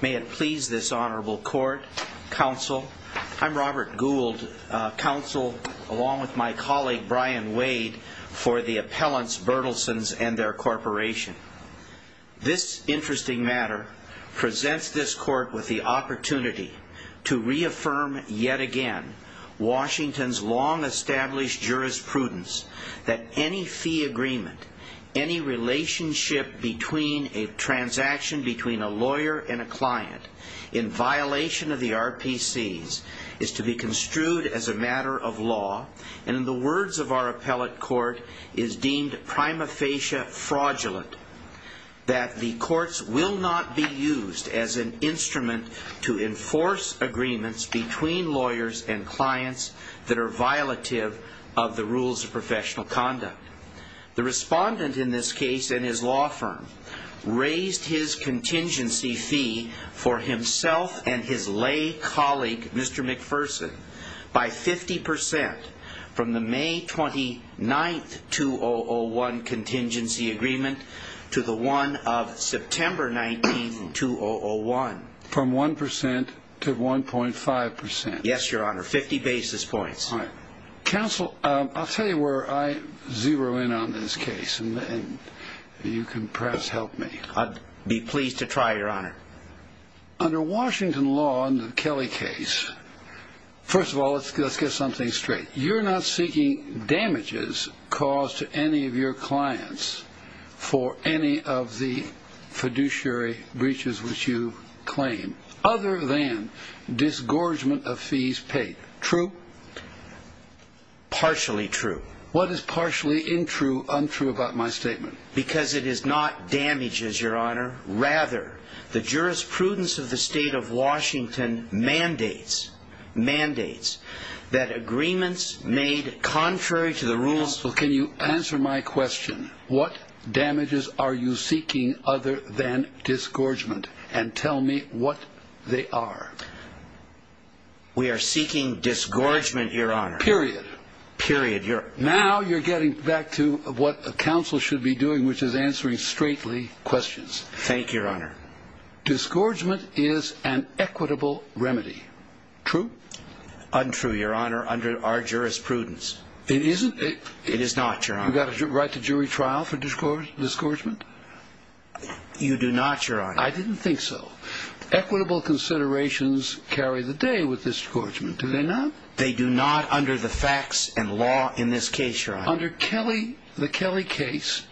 May it please this honorable court, counsel, I'm Robert Gould, counsel along with my colleague Brian Wade for the appellants Bertelsens and their corporation. This interesting matter presents this court with the opportunity to reaffirm yet again Washington's long established jurisprudence that any fee agreement, any relationship between a transaction between a lawyer and a client in violation of the RPCs is to be construed as a matter of law and in the words of our appellate court is deemed prima facie fraudulent. That the courts will not be used as an instrument to enforce agreements between lawyers and clients that are violative of the rules of professional conduct. The respondent in this case and his law firm raised his contingency fee for himself and his lay colleague Mr. McPherson by 50% from the May 29th 2001 contingency agreement to the one of September 19th 2001. From 1% to 1.5%. Yes your honor, 50 basis points. Counsel I'll tell you where I zero in on this case and you can perhaps help me. I'd be pleased to try your honor. Under Washington law in the Kelly case, first of all let's get something straight. You're not seeking damages caused to any of your clients for any of the fiduciary breaches which you claim other than disgorgement of fees paid, true? Partially true. What is partially untrue about my statement? Because it is not damages your honor, rather the jurisprudence of the state of Washington mandates, mandates that agreements made contrary to the rules. Counsel can you answer my question? What damages are you seeking other than disgorgement and tell me what they are? We are seeking disgorgement your honor. Period. Period. Now you're getting back to what counsel should be doing which is answering straightly questions. Thank you your honor. Disgorgement is an equitable remedy, true? Untrue your honor under our jurisprudence. It isn't? It is not your honor. You got a right to jury trial for disgorgement? You do not your honor. I didn't think so. Equitable considerations carry the day with disgorgement do they not? They do not under the facts and law in this case your honor. Under Kelly, the Kelly case,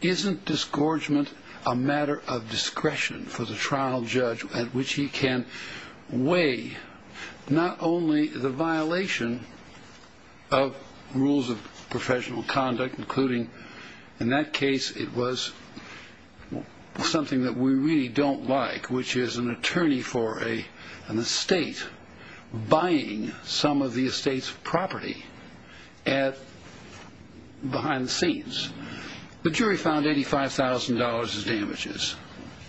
isn't disgorgement a matter of discretion for the trial judge at which he can weigh not only the violation of rules of professional conduct, including in that case it was something that we really don't like which is an attorney for an estate buying some of the estate's property behind the scenes. The jury found $85,000 in damages.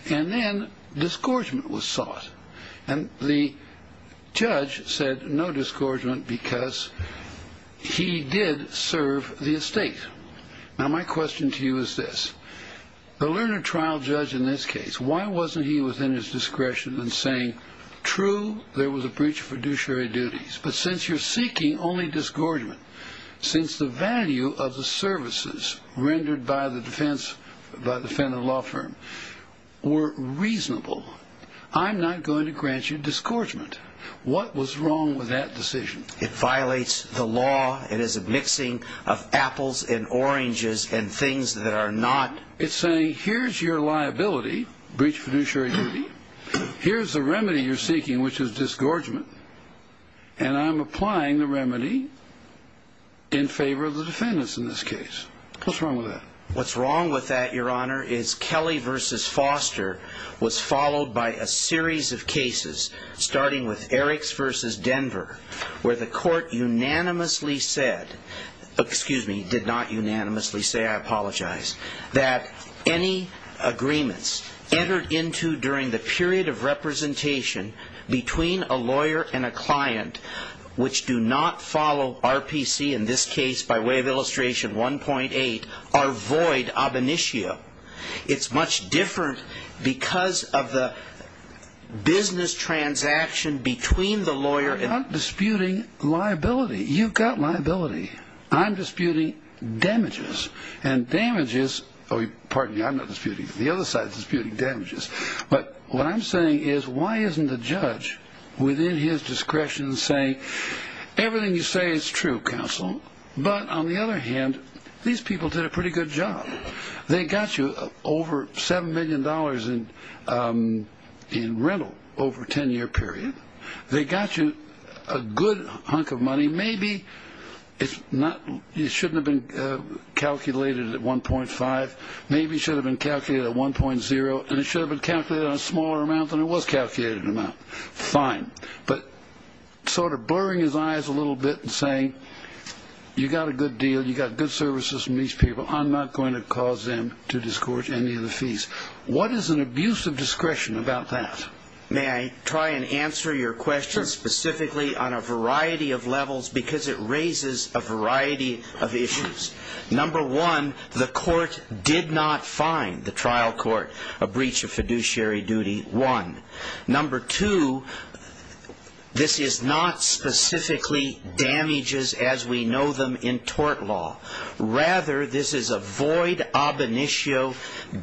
And then disgorgement was sought. And the judge said no disgorgement because he did serve the estate. Now my question to you is this. The learner trial judge in this case, why wasn't he within his discretion in saying true, there was a breach of fiduciary duties. But since you're seeking only disgorgement, since the value of the services rendered by the defendant law firm were reasonable, I'm not going to grant you disgorgement. What was wrong with that decision? It violates the law. It is a mixing of apples and oranges and things that are not. It's saying here's your liability, breach of fiduciary duty. Here's the remedy you're seeking which is disgorgement. And I'm applying the remedy in favor of the defendants in this case. What's wrong with that? The reason for that, Your Honor, is Kelly v. Foster was followed by a series of cases, starting with Eriks v. Denver, where the court unanimously said, excuse me, did not unanimously say, I apologize, that any agreements entered into during the period of representation between a lawyer and a client which do not follow RPC, in this case by way of illustration 1.8, are void ab initio. It's much different because of the business transaction between the lawyer and the client. I'm not disputing liability. You've got liability. I'm disputing damages. And damages, pardon me, I'm not disputing, the other side is disputing damages. But what I'm saying is why isn't the judge within his discretion saying, everything you say is true, counsel, but on the other hand, these people did a pretty good job. They got you over $7 million in rental over a 10-year period. They got you a good hunk of money. Maybe it shouldn't have been calculated at 1.5. Maybe it should have been calculated at 1.0. And it should have been calculated in a smaller amount than it was calculated in the amount. Fine. But sort of blurring his eyes a little bit and saying, you got a good deal, you got good services from these people, I'm not going to cause them to discourage any of the fees. What is an abuse of discretion about that? May I try and answer your question specifically on a variety of levels because it raises a variety of issues. Number one, the court did not find, the trial court, a breach of fiduciary duty, one. Number two, this is not specifically damages as we know them in tort law. Rather, this is a void ab initio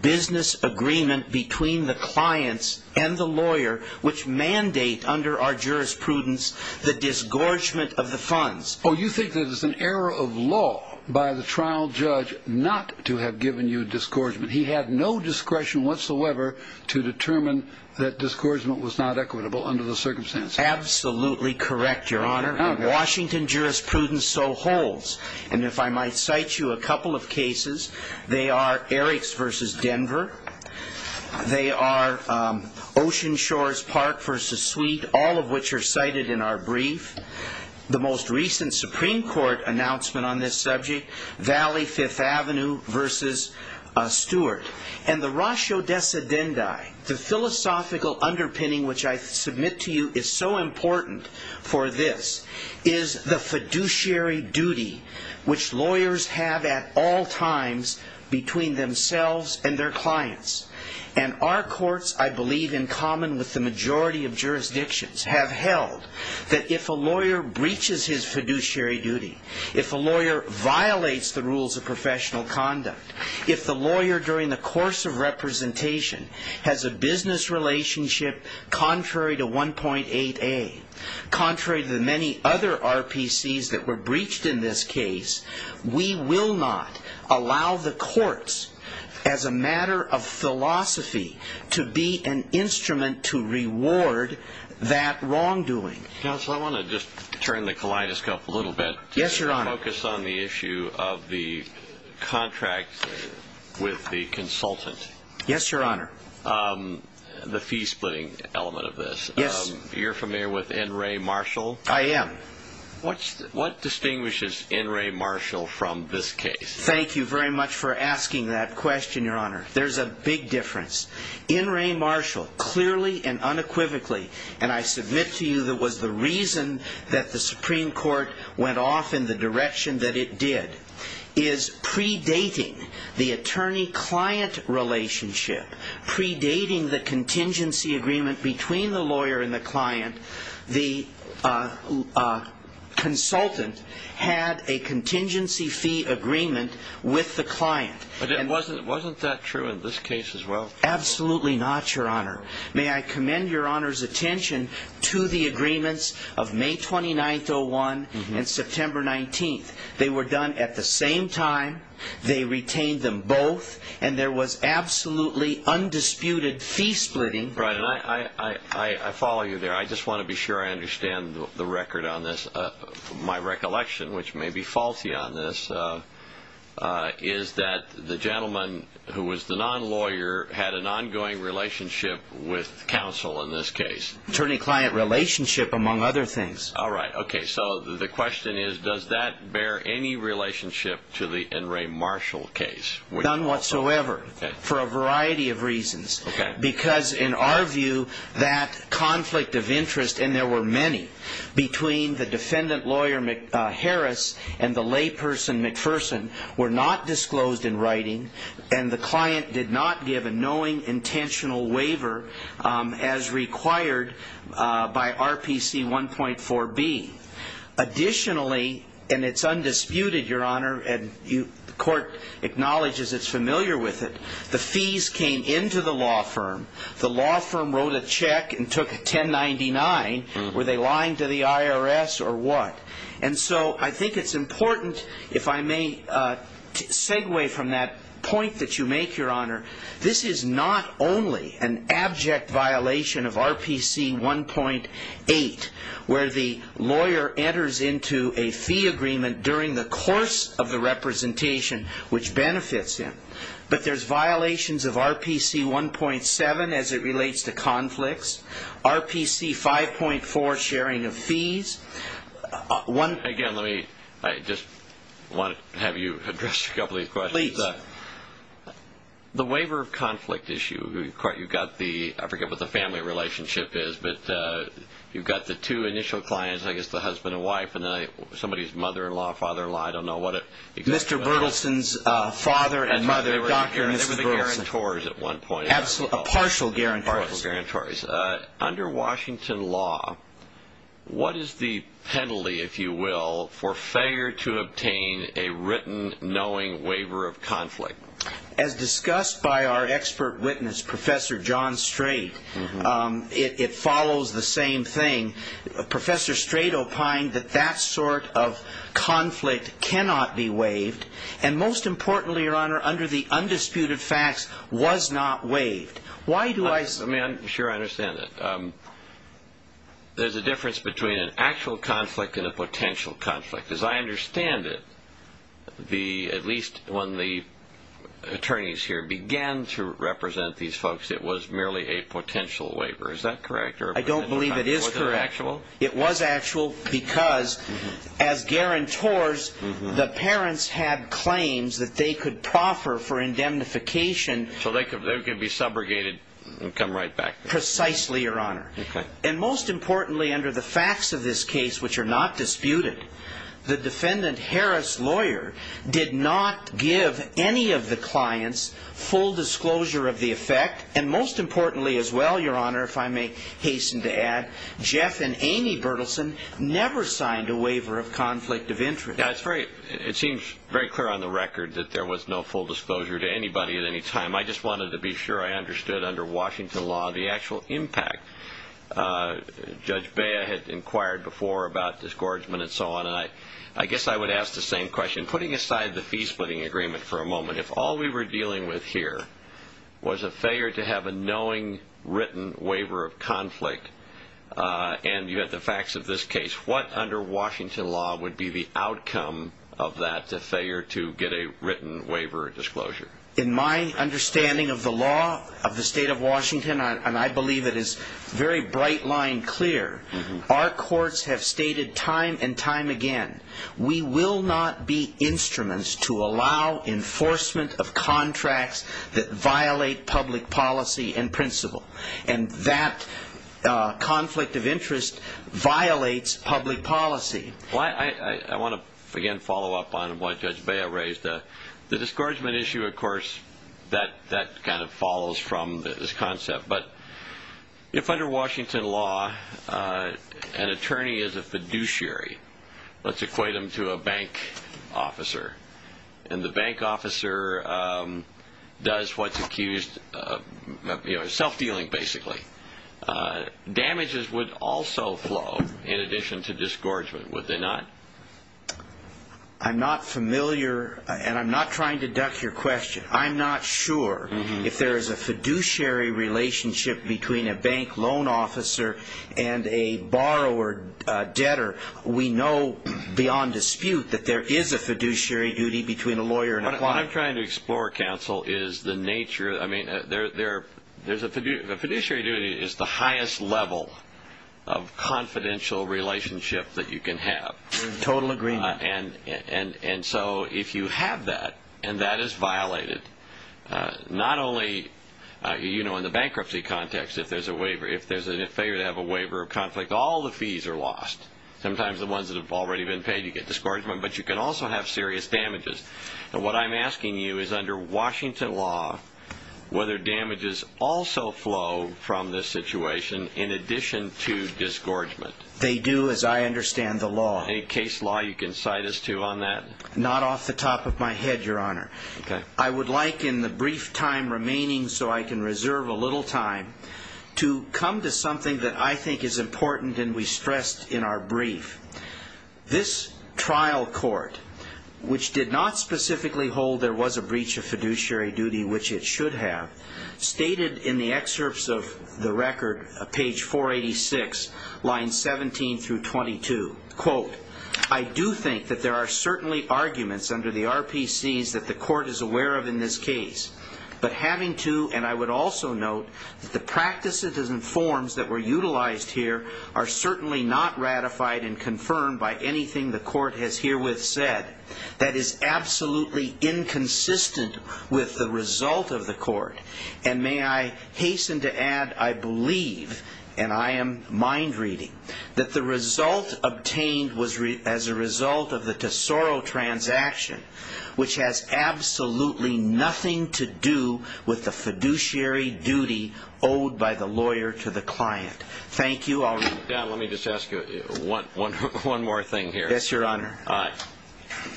business agreement between the clients and the lawyer, which mandate under our jurisprudence the disgorgement of the funds. Oh, you think that it's an error of law by the trial judge not to have given you disgorgement. He had no discretion whatsoever to determine that disgorgement was not equitable under the circumstances. Absolutely correct, Your Honor. In Washington jurisprudence, so holds. And if I might cite you a couple of cases, they are Eriks v. Denver. They are Ocean Shores Park v. Sweet, all of which are cited in our brief. The most recent Supreme Court announcement on this subject, Valley Fifth Avenue v. Stewart. And the ratio decedendi, the philosophical underpinning which I submit to you is so important for this, is the fiduciary duty which lawyers have at all times between themselves and their clients. And our courts, I believe in common with the majority of jurisdictions, have held that if a lawyer breaches his fiduciary duty, if a lawyer violates the rules of professional conduct, if the lawyer during the course of representation has a business relationship contrary to 1.8a, contrary to the many other RPCs that were breached in this case, we will not allow the courts, as a matter of philosophy, to be an instrument to reward that wrongdoing. Counsel, I want to just turn the kaleidoscope a little bit. Yes, Your Honor. Focus on the issue of the contract with the consultant. Yes, Your Honor. The fee splitting element of this. Yes. You're familiar with N. Ray Marshall? I am. What distinguishes N. Ray Marshall from this case? Thank you very much for asking that question, Your Honor. There's a big difference. N. Ray Marshall clearly and unequivocally, and I submit to you that was the reason that the Supreme Court went off in the direction that it did, is predating the attorney-client relationship, predating the contingency agreement between the lawyer and the client, the consultant had a contingency fee agreement with the client. Wasn't that true in this case as well? Absolutely not, Your Honor. May I commend Your Honor's attention to the agreements of May 29th, 2001, and September 19th. They were done at the same time. They retained them both, and there was absolutely undisputed fee splitting. Right, and I follow you there. I just want to be sure I understand the record on this. My recollection, which may be faulty on this, is that the gentleman who was the non-lawyer had an ongoing relationship with counsel in this case. Attorney-client relationship among other things. All right. Okay, so the question is, does that bear any relationship to the N. Ray Marshall case? None whatsoever, for a variety of reasons. Okay. Because in our view, that conflict of interest, and there were many, between the defendant lawyer, Harris, and the layperson, McPherson, were not disclosed in writing, and the client did not give a knowing intentional waiver as required by RPC 1.4b. Additionally, and it's undisputed, Your Honor, and the court acknowledges it's familiar with it, the fees came into the law firm. The law firm wrote a check and took a 1099. Were they lying to the IRS or what? And so I think it's important, if I may segue from that point that you make, Your Honor, this is not only an abject violation of RPC 1.8, where the lawyer enters into a fee agreement during the course of the representation, which benefits him, but there's violations of RPC 1.7 as it relates to conflicts, RPC 5.4, sharing of fees. Again, let me just have you address a couple of these questions. Please. The waiver of conflict issue, you've got the, I forget what the family relationship is, but you've got the two initial clients, I guess the husband and wife, and then somebody's mother-in-law, father-in-law, I don't know what it is. Mr. Berthelsen's father and mother, Dr. and Mrs. Berthelsen. They were guarantors at one point. A partial guarantor. Under Washington law, what is the penalty, if you will, for failure to obtain a written, knowing waiver of conflict? As discussed by our expert witness, Professor John Strait, it follows the same thing. Professor Strait opined that that sort of conflict cannot be waived, and most importantly, Your Honor, under the undisputed facts, was not waived. Why do I say that? Sure, I understand that. There's a difference between an actual conflict and a potential conflict. As I understand it, at least when the attorneys here began to represent these folks, it was merely a potential waiver. Is that correct? I don't believe it is correct. Was it actual? It was actual because, as guarantors, the parents had claims that they could proffer for indemnification. So they could be subjugated and come right back. Precisely, Your Honor. Okay. And most importantly, under the facts of this case, which are not disputed, the defendant Harris lawyer did not give any of the clients full disclosure of the effect, and most importantly as well, Your Honor, if I may hasten to add, Jeff and Amy Bertelsen never signed a waiver of conflict of interest. It seems very clear on the record that there was no full disclosure to anybody at any time. I just wanted to be sure I understood under Washington law the actual impact. Judge Bea had inquired before about disgorgement and so on, and I guess I would ask the same question. Putting aside the fee-splitting agreement for a moment, if all we were dealing with here was a failure to have a knowing written waiver of conflict, and you had the facts of this case, what under Washington law would be the outcome of that failure to get a written waiver of disclosure? In my understanding of the law of the state of Washington, and I believe it is very bright line clear, our courts have stated time and time again, we will not be instruments to allow enforcement of contracts that violate public policy and principle, and that conflict of interest violates public policy. I want to again follow up on what Judge Bea raised. The disgorgement issue, of course, that kind of follows from this concept, but if under Washington law an attorney is a fiduciary, let's equate them to a bank officer, and the bank officer does what's accused of self-dealing basically, damages would also flow in addition to disgorgement, would they not? I'm not familiar, and I'm not trying to duck your question. I'm not sure if there is a fiduciary relationship between a bank loan officer and a borrower debtor. We know beyond dispute that there is a fiduciary duty between a lawyer and a client. What I'm trying to explore, counsel, is the nature. A fiduciary duty is the highest level of confidential relationship that you can have. Total agreement. And so if you have that and that is violated, not only in the bankruptcy context, if there's a waiver, if they have a waiver of conflict, all the fees are lost. Sometimes the ones that have already been paid you get disgorgement, but you can also have serious damages. What I'm asking you is under Washington law, whether damages also flow from this situation in addition to disgorgement. They do, as I understand the law. Any case law you can cite us to on that? Not off the top of my head, Your Honor. Okay. I would like, in the brief time remaining so I can reserve a little time, to come to something that I think is important and we stressed in our brief. This trial court, which did not specifically hold there was a breach of fiduciary duty, which it should have, stated in the excerpts of the record, page 486, lines 17 through 22, quote, I do think that there are certainly arguments under the RPCs that the court is aware of in this case, but having to, and I would also note that the practices and forms that were utilized here are certainly not ratified and confirmed by anything the court has herewith said. That is absolutely inconsistent with the result of the court. And may I hasten to add, I believe, and I am mind reading, that the result obtained was as a result of the Tesoro transaction, which has absolutely nothing to do with the fiduciary duty owed by the lawyer to the client. Thank you. Let me just ask you one more thing here. Yes, Your Honor.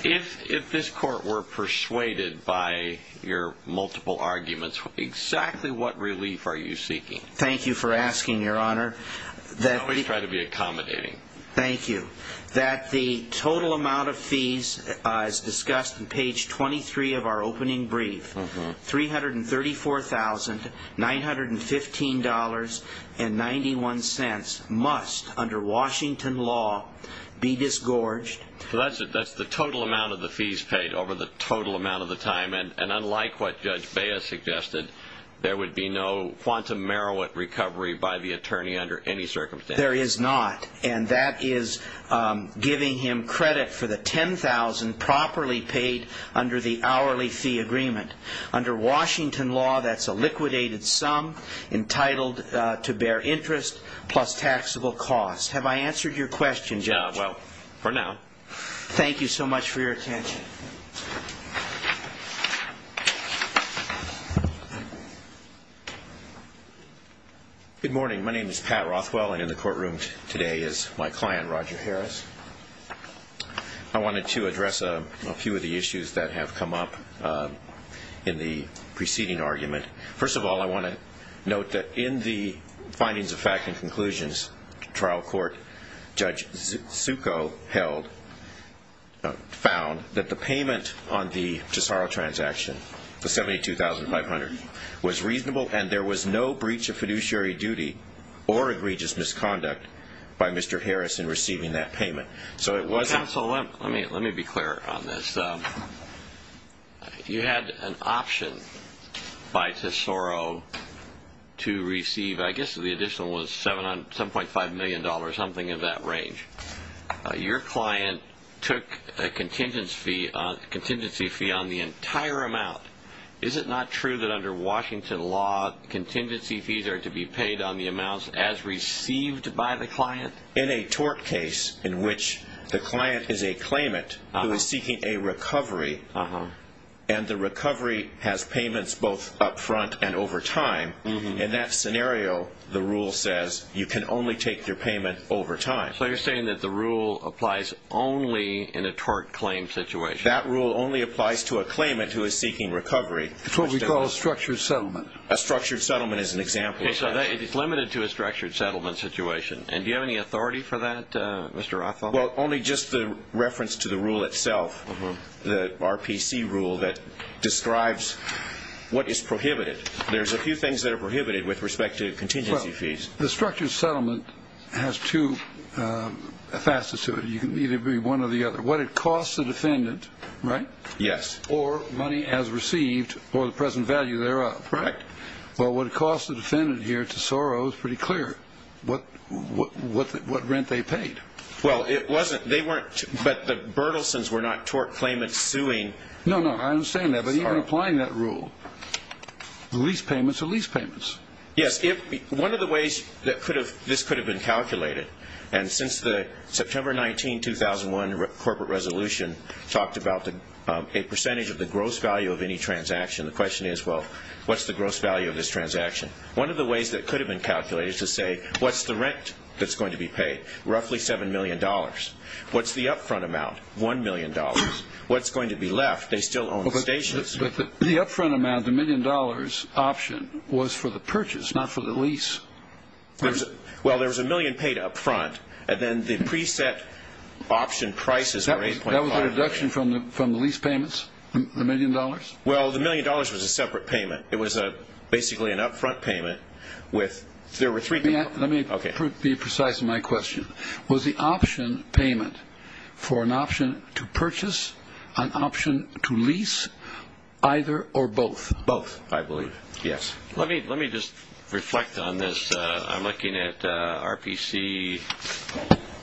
If this court were persuaded by your multiple arguments, exactly what relief are you seeking? Thank you for asking, Your Honor. I always try to be accommodating. Thank you. That the total amount of fees as discussed in page 23 of our opening brief, $334,915.91, must, under Washington law, be disgorged. So that's the total amount of the fees paid over the total amount of the time, and unlike what Judge Baez suggested, there would be no quantum merit recovery by the attorney under any circumstance. There is not. And that is giving him credit for the $10,000 properly paid under the hourly fee agreement. Under Washington law, that's a liquidated sum entitled to bear interest plus taxable costs. Have I answered your question, Judge? Well, for now. Thank you so much for your attention. Good morning. My name is Pat Rothwell, and in the courtroom today is my client, Roger Harris. I wanted to address a few of the issues that have come up in the preceding argument. First of all, I want to note that in the findings of fact and conclusions trial court, Judge Succo found that the payment on the Tesoro transaction, the $72,500, was reasonable and there was no breach of fiduciary duty or egregious misconduct by Mr. Harris in receiving that payment. Counsel, let me be clear on this. You had an option by Tesoro to receive, I guess the additional was $7.5 million, something of that range. Your client took a contingency fee on the entire amount. Is it not true that under Washington law, contingency fees are to be paid on the amounts as received by the client? In a tort case in which the client is a claimant who is seeking a recovery and the recovery has payments both up front and over time, in that scenario the rule says you can only take their payment over time. So you're saying that the rule applies only in a tort claim situation? That rule only applies to a claimant who is seeking recovery. It's what we call a structured settlement. A structured settlement is an example. It's limited to a structured settlement situation. Do you have any authority for that, Mr. Rothfeld? Only just the reference to the rule itself, the RPC rule that describes what is prohibited. There's a few things that are prohibited with respect to contingency fees. The structured settlement has two facets to it. It can either be one or the other. What it costs the defendant, right? Yes. Or money as received or the present value thereof. Correct. Well, what it costs the defendant here at Tesoro is pretty clear what rent they paid. Well, it wasn't. They weren't. But the Bertelsons were not tort claimants suing Tesoro. No, no, I understand that. But even applying that rule, the lease payments are lease payments. Yes. One of the ways this could have been calculated, and since the September 19, 2001 corporate resolution talked about a percentage of the gross value of any transaction, the question is, well, what's the gross value of this transaction? One of the ways that it could have been calculated is to say, what's the rent that's going to be paid? Roughly $7 million. What's the up-front amount? $1 million. What's going to be left? They still own the stations. But the up-front amount, the $1 million option, was for the purchase, not for the lease. Well, there was $1 million paid up front, and then the preset option prices were $8.5 million. That was a reduction from the lease payments, the $1 million? Well, the $1 million was a separate payment. It was basically an up-front payment. Let me be precise in my question. Was the option payment for an option to purchase, an option to lease, either or both? Both, I believe, yes. Let me just reflect on this. I'm looking at RPC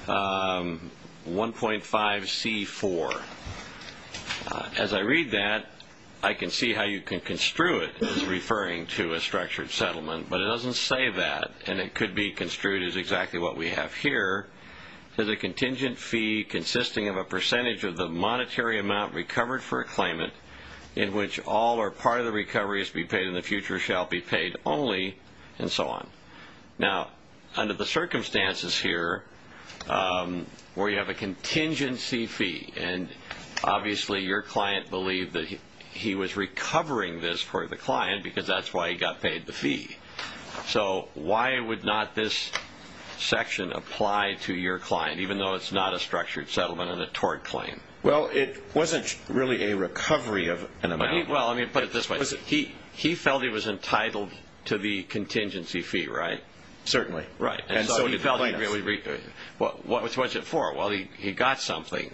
1.5C4. As I read that, I can see how you can construe it as referring to a structured settlement, but it doesn't say that, and it could be construed as exactly what we have here. There's a contingent fee consisting of a percentage of the monetary amount recovered for a claimant in which all or part of the recovery is to be paid and the future shall be paid only, and so on. Now, under the circumstances here where you have a contingency fee, and obviously your client believed that he was recovering this for the client because that's why he got paid the fee. So why would not this section apply to your client, even though it's not a structured settlement and a tort claim? Well, it wasn't really a recovery of an amount. Well, let me put it this way. He felt he was entitled to the contingency fee, right? Certainly. Right. And so he felt he really was. Which was it for? Well, he got something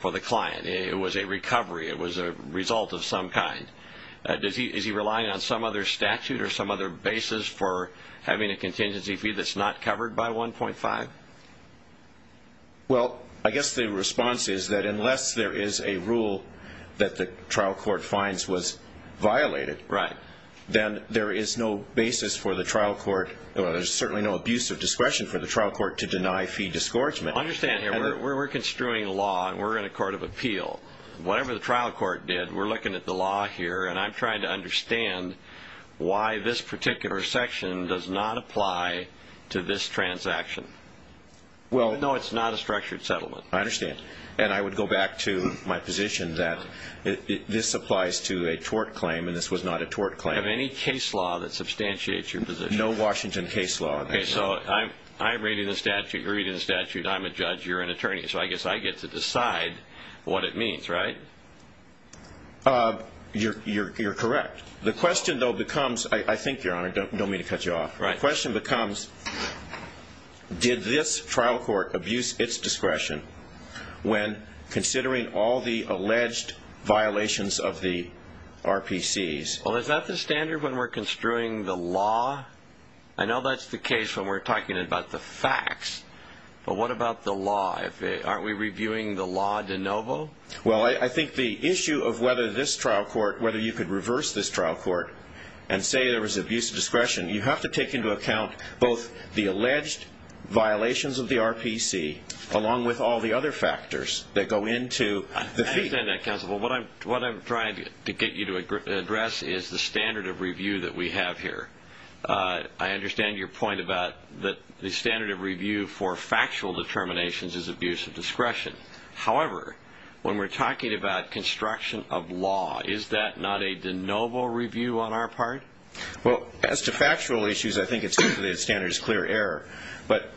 for the client. It was a recovery. It was a result of some kind. Is he relying on some other statute or some other basis for having a contingency fee that's not covered by 1.5? Well, I guess the response is that unless there is a rule that the trial court finds was violated, then there is no basis for the trial court, or there's certainly no abuse of discretion for the trial court to deny fee disgorgement. Understand here, we're construing a law, and we're in a court of appeal. Whatever the trial court did, we're looking at the law here, and I'm trying to understand why this particular section does not apply to this transaction. Well, no, it's not a structured settlement. I understand. And I would go back to my position that this applies to a tort claim, and this was not a tort claim. Do you have any case law that substantiates your position? No Washington case law. Okay, so I'm reading the statute, you're reading the statute, I'm a judge, you're an attorney. So I guess I get to decide what it means, right? You're correct. The question, though, becomes, I think, Your Honor, don't mean to cut you off, the question becomes did this trial court abuse its discretion when considering all the alleged violations of the RPCs? Well, is that the standard when we're construing the law? I know that's the case when we're talking about the facts, but what about the law? Aren't we reviewing the law de novo? Well, I think the issue of whether this trial court, whether you could reverse this trial court and say there was abuse of discretion, you have to take into account both the alleged violations of the RPC along with all the other factors that go into the fee. I understand that, counsel. What I'm trying to get you to address is the standard of review that we have here. I understand your point about the standard of review for factual determinations is abuse of discretion. However, when we're talking about construction of law, is that not a de novo review on our part? Well, as to factual issues, I think it's clear that the standard is clear error. But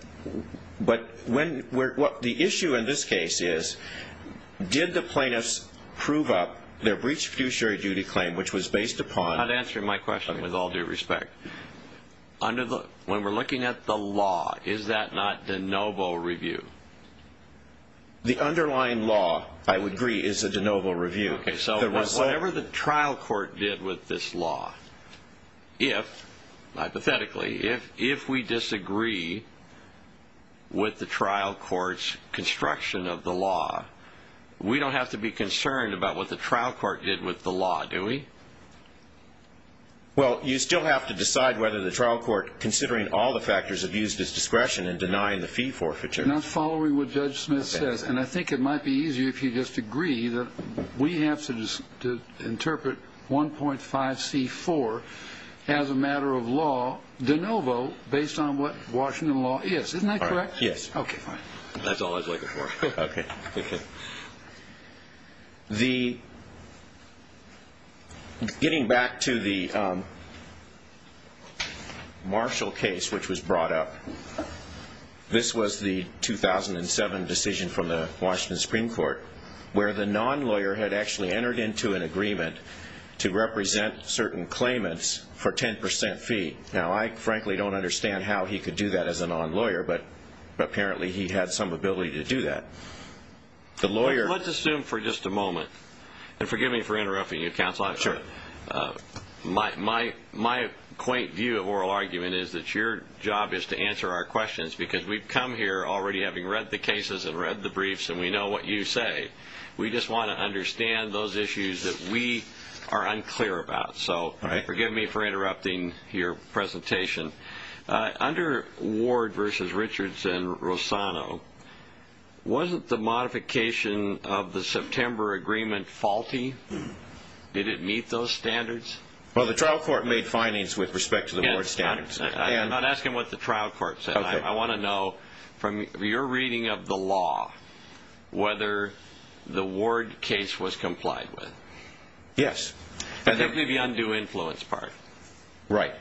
the issue in this case is did the plaintiffs prove up their breach of fiduciary duty claim, which was based upon I'm not answering my question with all due respect. When we're looking at the law, is that not de novo review? The underlying law, I would agree, is a de novo review. Okay. So whatever the trial court did with this law, if, hypothetically, if we disagree with the trial court's construction of the law, we don't have to be concerned about what the trial court did with the law, do we? Well, you still have to decide whether the trial court, considering all the factors of use of discretion in denying the fee forfeiture. And I'm following what Judge Smith says. And I think it might be easier if you just agree that we have to interpret 1.5C4 as a matter of law de novo, based on what Washington law is. Isn't that correct? Yes. That's all I was looking for. Okay. Getting back to the Marshall case, which was brought up, this was the 2007 decision from the Washington Supreme Court, where the non-lawyer had actually entered into an agreement to represent certain claimants for 10% fee. Now, I frankly don't understand how he could do that as a non-lawyer, but apparently he had some ability to do that. Let's assume for just a moment, and forgive me for interrupting you, Counsel. Sure. My quaint view of oral argument is that your job is to answer our questions, because we've come here already having read the cases and read the briefs, and we know what you say. We just want to understand those issues that we are unclear about. So forgive me for interrupting your presentation. Under Ward v. Richardson-Rosano, wasn't the modification of the September agreement faulty? Did it meet those standards? Well, the trial court made findings with respect to the Ward standards. I'm not asking what the trial court said. I want to know from your reading of the law whether the Ward case was complied with. Yes. The undue influence part. Right.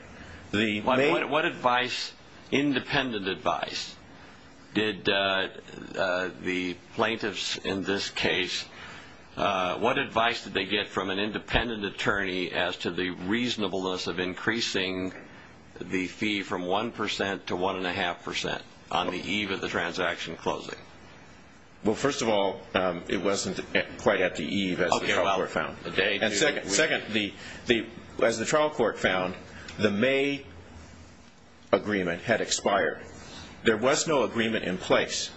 What advice, independent advice, did the plaintiffs in this case, what advice did they get from an independent attorney as to the reasonableness of increasing the fee from 1% to 1.5% on the eve of the transaction closing? Well, first of all, it wasn't quite at the eve as the trial court found. Second, as the trial court found, the May agreement had expired. There was no agreement in place.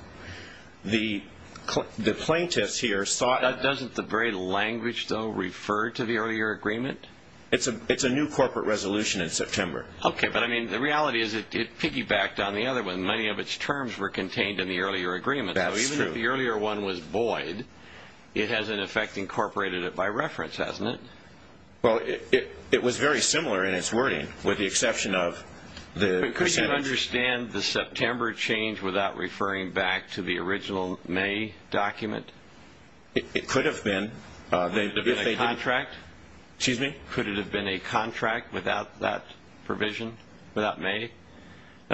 The plaintiffs here saw it. Doesn't the very language, though, refer to the earlier agreement? It's a new corporate resolution in September. Okay. But, I mean, the reality is it piggybacked on the other one. Many of its terms were contained in the earlier agreement. That's true. The earlier one was void. It has, in effect, incorporated it by reference, hasn't it? Well, it was very similar in its wording with the exception of the percentage. But could you understand the September change without referring back to the original May document? It could have been. Could it have been a contract? Excuse me? Could it have been a contract without that provision, without May? In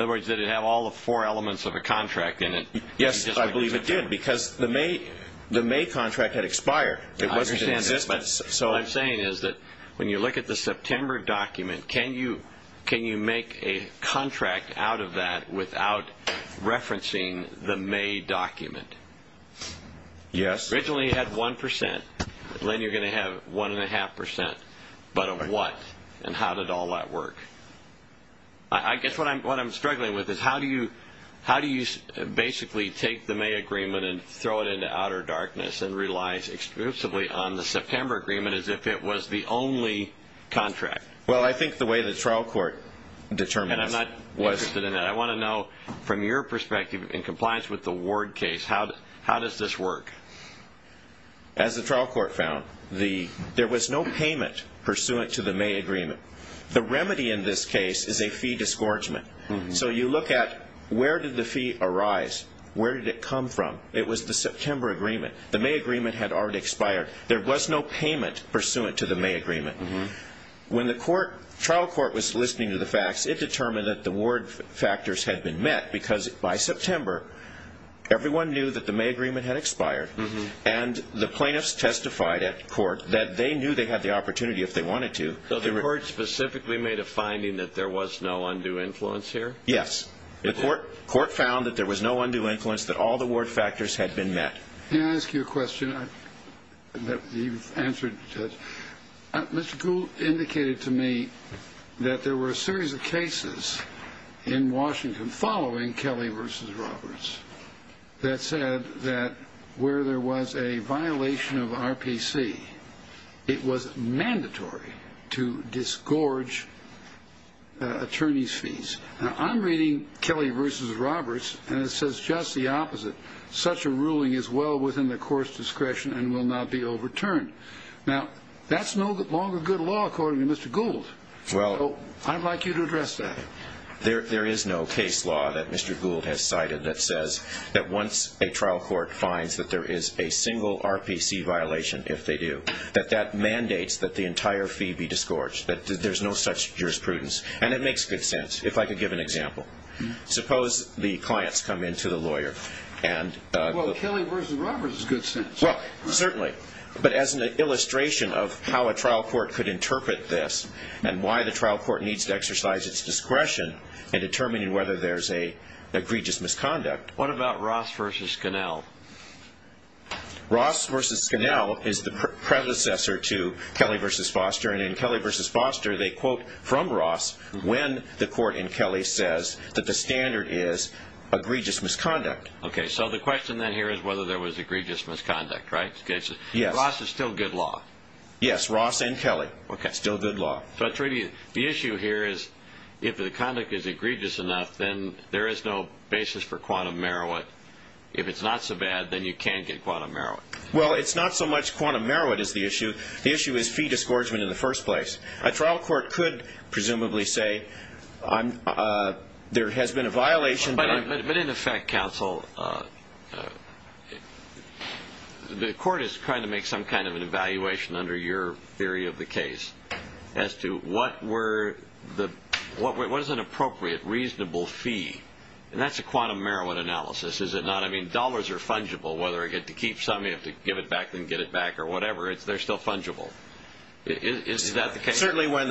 other words, did it have all the four elements of a contract in it? Yes, I believe it did because the May contract had expired. It wasn't in existence. What I'm saying is that when you look at the September document, can you make a contract out of that without referencing the May document? Yes. Originally it had 1%. Then you're going to have 1.5%. But a what? And how did all that work? I guess what I'm struggling with is how do you basically take the May agreement and throw it into outer darkness and rely exclusively on the September agreement as if it was the only contract? Well, I think the way the trial court determines it. And I'm not interested in that. I want to know from your perspective, in compliance with the Ward case, how does this work? As the trial court found, there was no payment pursuant to the May agreement. The remedy in this case is a fee disgorgement. So you look at where did the fee arise? Where did it come from? It was the September agreement. The May agreement had already expired. There was no payment pursuant to the May agreement. When the trial court was listening to the facts, it determined that the Ward factors had been met because by September, everyone knew that the May agreement had expired, and the plaintiffs testified at court that they knew they had the opportunity if they wanted to. So the court specifically made a finding that there was no undue influence here? Yes. The court found that there was no undue influence, that all the Ward factors had been met. May I ask you a question that you've answered? Mr. Gould indicated to me that there were a series of cases in Washington following Kelly v. Roberts that said that where there was a violation of RPC, it was mandatory to disgorge attorney's fees. Now, I'm reading Kelly v. Roberts, and it says just the opposite. Such a ruling is well within the court's discretion and will not be overturned. Now, that's no longer good law, according to Mr. Gould. So I'd like you to address that. There is no case law that Mr. Gould has cited that says that once a trial court finds that there is a single RPC violation, if they do, that that mandates that the entire fee be disgorged, that there's no such jurisprudence. And it makes good sense, if I could give an example. Suppose the clients come in to the lawyer. Well, Kelly v. Roberts is good sense. Well, certainly. But as an illustration of how a trial court could interpret this and why the trial court needs to exercise its discretion in determining whether there's an egregious misconduct. What about Ross v. Scannell? Ross v. Scannell is the predecessor to Kelly v. Foster. And in Kelly v. Foster, they quote from Ross when the court in Kelly says that the standard is egregious misconduct. Okay. So the question then here is whether there was egregious misconduct, right? Yes. Ross is still good law. Yes. Ross and Kelly. Okay. Still good law. But the issue here is if the conduct is egregious enough, then there is no basis for quantum merit. If it's not so bad, then you can get quantum merit. Well, it's not so much quantum merit is the issue. The issue is fee disgorgement in the first place. A trial court could presumably say there has been a violation. But in effect, counsel, the court is trying to make some kind of an evaluation under your theory of the case as to what is an appropriate, reasonable fee. And that's a quantum merit analysis, is it not? I mean, dollars are fungible. Whether you get to keep some, you have to give it back, then get it back, or whatever, they're still fungible. Is that the case? Certainly when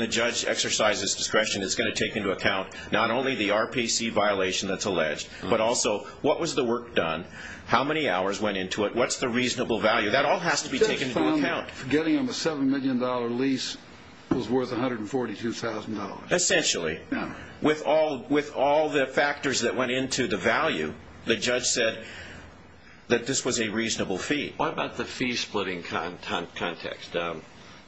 the judge exercises discretion, it's going to take into account not only the RPC violation that's alleged, but also what was the work done, how many hours went into it, what's the reasonable value. That all has to be taken into account. I just found that getting him a $7 million lease was worth $142,000. Essentially. With all the factors that went into the value, the judge said that this was a reasonable fee. What about the fee splitting context?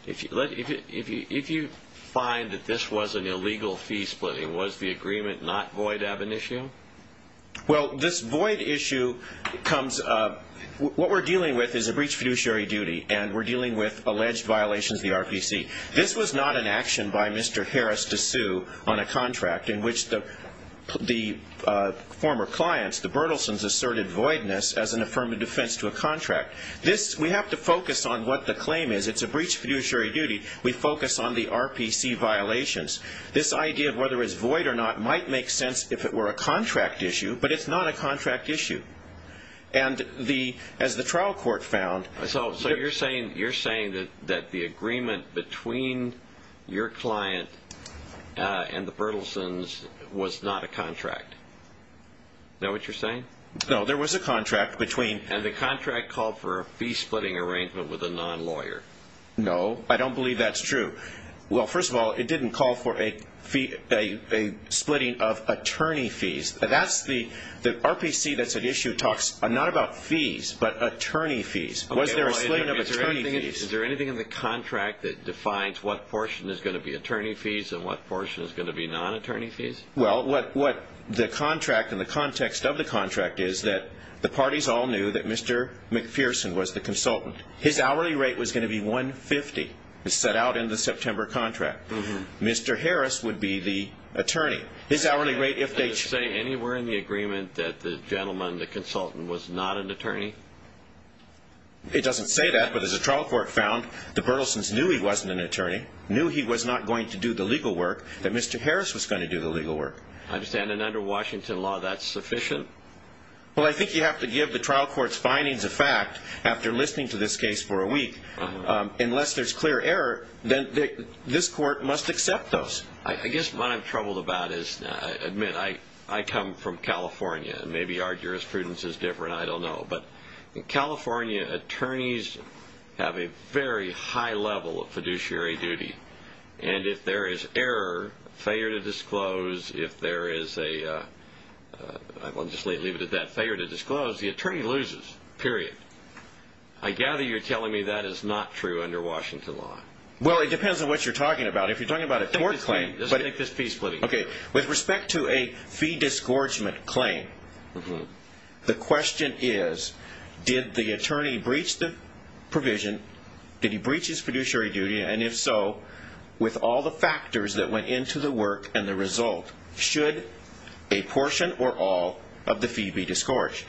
If you find that this was an illegal fee splitting, was the agreement not void ab initio? Well, this void issue comes up. What we're dealing with is a breach of fiduciary duty, and we're dealing with alleged violations of the RPC. This was not an action by Mr. Harris to sue on a contract in which the former clients, the Bertelsons, asserted voidness as an affirmative defense to a contract. We have to focus on what the claim is. It's a breach of fiduciary duty. We focus on the RPC violations. This idea of whether it's void or not might make sense if it were a contract issue, but it's not a contract issue. As the trial court found... So you're saying that the agreement between your client and the Bertelsons was not a contract. Is that what you're saying? No, there was a contract between... And the contract called for a fee splitting arrangement with a non-lawyer. No, I don't believe that's true. Well, first of all, it didn't call for a splitting of attorney fees. The RPC that's at issue talks not about fees but attorney fees. Was there a splitting of attorney fees? Is there anything in the contract that defines what portion is going to be attorney fees and what portion is going to be non-attorney fees? Well, what the contract and the context of the contract is that the parties all knew that Mr. McPherson was the consultant. His hourly rate was going to be $150. It's set out in the September contract. Mr. Harris would be the attorney. Does it say anywhere in the agreement that the gentleman, the consultant, was not an attorney? It doesn't say that, but as the trial court found, the Bertelsons knew he wasn't an attorney, knew he was not going to do the legal work, that Mr. Harris was going to do the legal work. I understand. And under Washington law, that's sufficient? Well, I think you have to give the trial court's findings a fact after listening to this case for a week. Unless there's clear error, then this court must accept those. I guess what I'm troubled about is, I admit, I come from California. Maybe our jurisprudence is different. I don't know. But in California, attorneys have a very high level of fiduciary duty. And if there is error, failure to disclose, if there is a failure to disclose, the attorney loses, period. I gather you're telling me that is not true under Washington law. Well, it depends on what you're talking about. If you're talking about a tort claim, with respect to a fee disgorgement claim, the question is, did the attorney breach the provision, did he breach his fiduciary duty, and if so, with all the factors that went into the work and the result, should a portion or all of the fee be disgorged?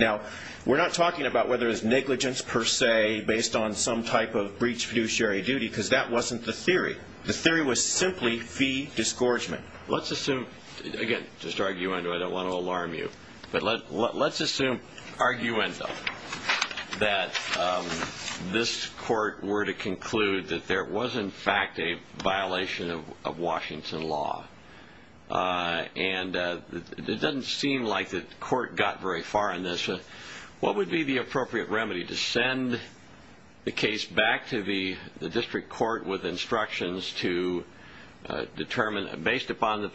Now, we're not talking about whether there's negligence per se, based on some type of breach of fiduciary duty, because that wasn't the theory. The theory was simply fee disgorgement. Let's assume, again, just arguendo, I don't want to alarm you, but let's assume, arguendo, that this court were to conclude that there was, in fact, a violation of Washington law. And it doesn't seem like the court got very far in this. What would be the appropriate remedy to send the case back to the district court with instructions to determine, based upon the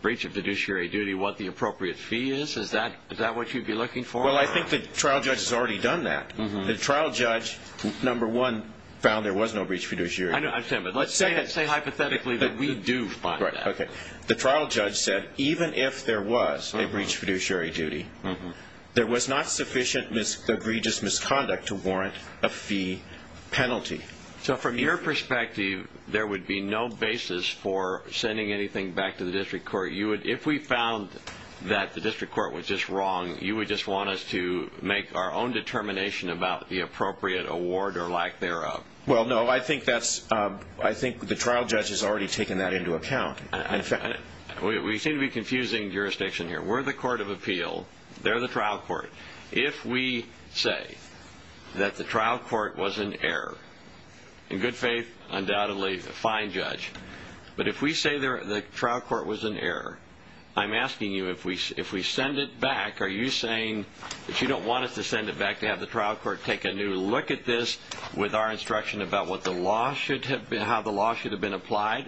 breach of fiduciary duty, what the appropriate fee is? Is that what you'd be looking for? Well, I think the trial judge has already done that. The trial judge, number one, found there was no breach of fiduciary duty. I understand, but let's say hypothetically that we do find that. Okay. The trial judge said, even if there was a breach of fiduciary duty, there was not sufficient egregious misconduct to warrant a fee penalty. So from your perspective, there would be no basis for sending anything back to the district court. If we found that the district court was just wrong, you would just want us to make our own determination about the appropriate award or lack thereof. Well, no, I think the trial judge has already taken that into account. We seem to be confusing jurisdiction here. We're the court of appeal. They're the trial court. If we say that the trial court was in error, in good faith, undoubtedly, fine, judge. But if we say the trial court was in error, I'm asking you, if we send it back, are you saying that you don't want us to send it back to have the trial court take a new look at this with our instruction about how the law should have been applied?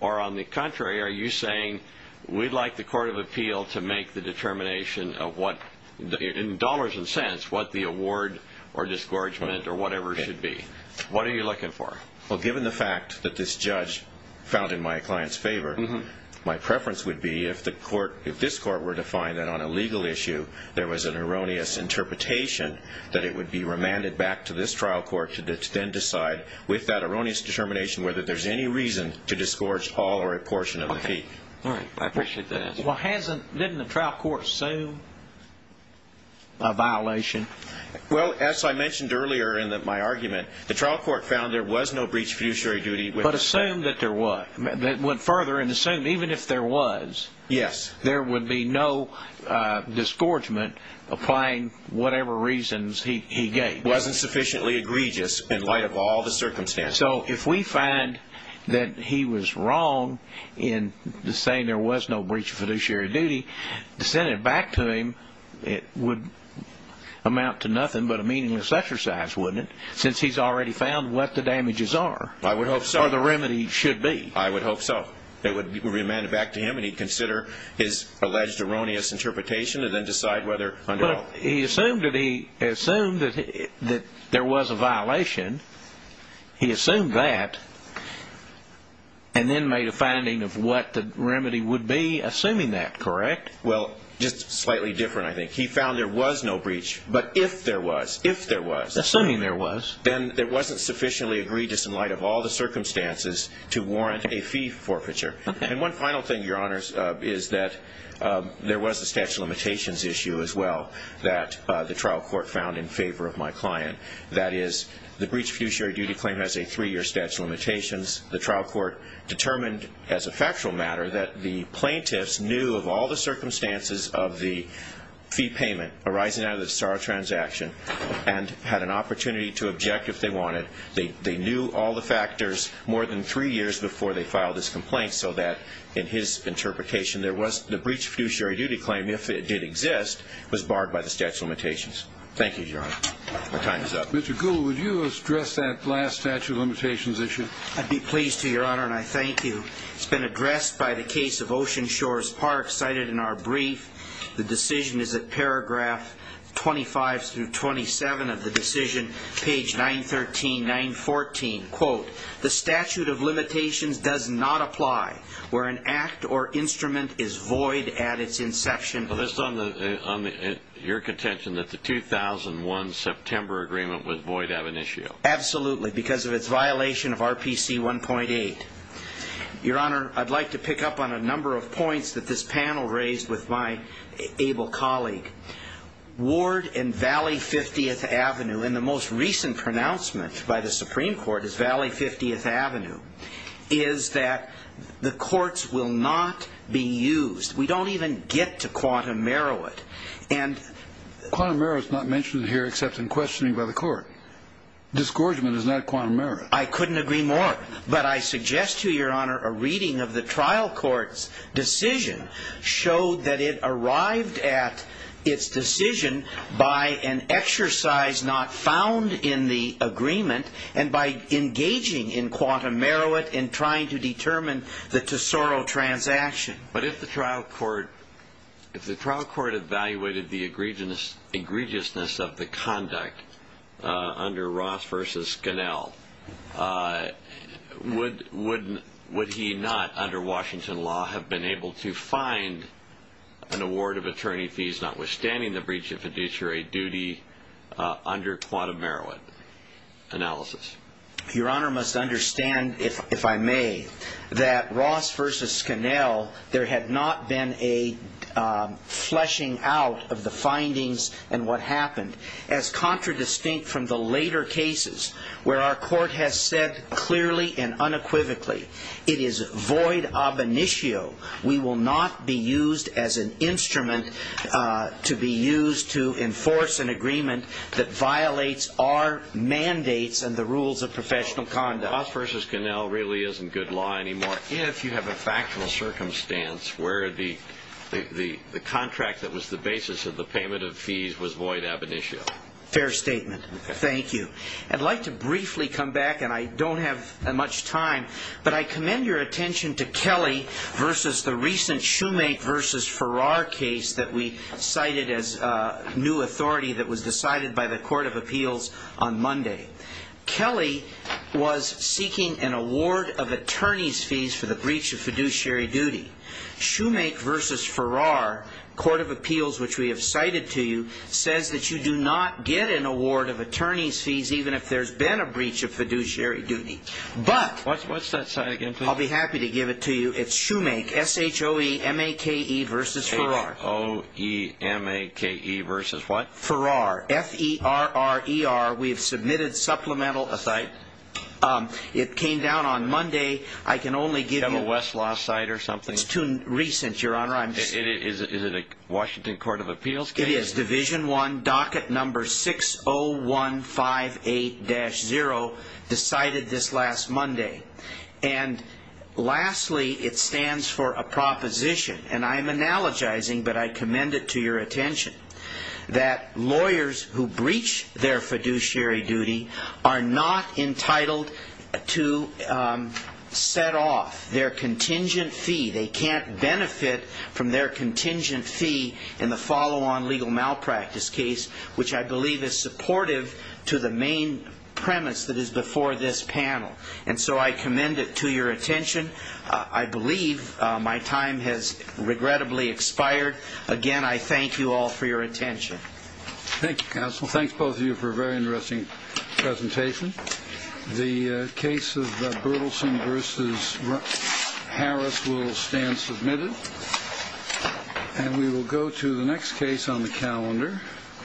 Or on the contrary, are you saying we'd like the court of appeal to make the determination of what, in dollars and cents, what the award or disgorgement or whatever should be? What are you looking for? Well, given the fact that this judge found in my client's favor, my preference would be if this court were to find that on a legal issue there was an erroneous interpretation that it would be remanded back to this trial court to then decide, with that erroneous determination, whether there's any reason to disgorge all or a portion of the fee. All right. I appreciate that answer. Well, didn't the trial court assume a violation? Well, as I mentioned earlier in my argument, the trial court found there was no breach of fiduciary duty. But assume that there was. It went further and assumed even if there was, there would be no disgorgement applying whatever reasons he gave. It wasn't sufficiently egregious in light of all the circumstances. So if we find that he was wrong in saying there was no breach of fiduciary duty, to send it back to him would amount to nothing but a meaningless exercise, wouldn't it, since he's already found what the damages are or the remedy should be? I would hope so. It would be remanded back to him and he'd consider his alleged erroneous interpretation and then decide whether or not. Well, he assumed that there was a violation. He assumed that and then made a finding of what the remedy would be, assuming that, correct? Well, just slightly different, I think. He found there was no breach. But if there was, if there was. Assuming there was. Then there wasn't sufficiently egregious in light of all the circumstances to warrant a fee forfeiture. And one final thing, Your Honors, is that there was a statute of limitations issue as well that the trial court found in favor of my client. That is, the breach of fiduciary duty claim has a three-year statute of limitations. The trial court determined as a factual matter that the plaintiffs knew of all the circumstances of the fee payment arising out of the star transaction and had an opportunity to object if they wanted. They knew all the factors more than three years before they filed this complaint so that, in his interpretation, the breach of fiduciary duty claim, if it did exist, was barred by the statute of limitations. Thank you, Your Honor. My time is up. Mr. Gould, would you address that last statute of limitations issue? I'd be pleased to, Your Honor, and I thank you. It's been addressed by the case of Ocean Shores Park cited in our brief. The decision is at paragraph 25 through 27 of the decision, page 913, 914. Quote, The statute of limitations does not apply where an act or instrument is void at its inception. Well, it's on your contention that the 2001 September agreement was void ab initio. Absolutely, because of its violation of RPC 1.8. Your Honor, I'd like to pick up on a number of points that this panel raised with my able colleague. Ward and Valley 50th Avenue, and the most recent pronouncement by the Supreme Court is Valley 50th Avenue, is that the courts will not be used. We don't even get to quantum merit. Quantum merit is not mentioned here except in questioning by the court. Discouragement is not quantum merit. I couldn't agree more. But I suggest to Your Honor a reading of the trial court's decision showed that it arrived at its decision by an exercise not found in the agreement and by engaging in quantum merit in trying to determine the Tesoro transaction. But if the trial court evaluated the egregiousness of the conduct under Ross v. Scannell, would he not, under Washington law, have been able to find an award of attorney fees notwithstanding the breach of fiduciary duty under quantum merit analysis? Your Honor must understand, if I may, that Ross v. Scannell, there had not been a fleshing out of the findings and what happened. As contradistinct from the later cases where our court has said clearly and unequivocally, it is void ab initio. We will not be used as an instrument to be used to enforce an agreement that violates our mandates and the rules of professional conduct. So, Ross v. Scannell really isn't good law anymore if you have a factual circumstance where the contract that was the basis of the payment of fees was void ab initio. Fair statement. Thank you. I'd like to briefly come back, and I don't have much time, but I commend your attention to Kelly v. the recent Shoemake v. Farrar case that we cited as new authority that was decided by the Court of Appeals on Monday. Kelly was seeking an award of attorney's fees for the breach of fiduciary duty. Shoemake v. Farrar, Court of Appeals, which we have cited to you, says that you do not get an award of attorney's fees even if there's been a breach of fiduciary duty. But... What's that site again, please? I'll be happy to give it to you. It's Shoemake, S-H-O-E-M-A-K-E v. Farrar. S-H-O-E-M-A-K-E v. what? Farrar, F-E-R-R-E-R. We have submitted supplemental... A site? It came down on Monday. I can only give you... You have a Westlaw site or something? It's too recent, Your Honor. Is it a Washington Court of Appeals case? It is. Division 1, docket number 60158-0, decided this last Monday. And lastly, it stands for a proposition, and I am analogizing, but I commend it to your attention, that lawyers who breach their fiduciary duty are not entitled to set off their contingent fee. They can't benefit from their contingent fee in the follow-on legal malpractice case, which I believe is supportive to the main premise that is before this panel. And so I commend it to your attention. I believe my time has regrettably expired. Again, I thank you all for your attention. Thank you, counsel. Thanks, both of you, for a very interesting presentation. The case of Berthelsen v. Harris will stand submitted. And we will go to the next case on the calendar.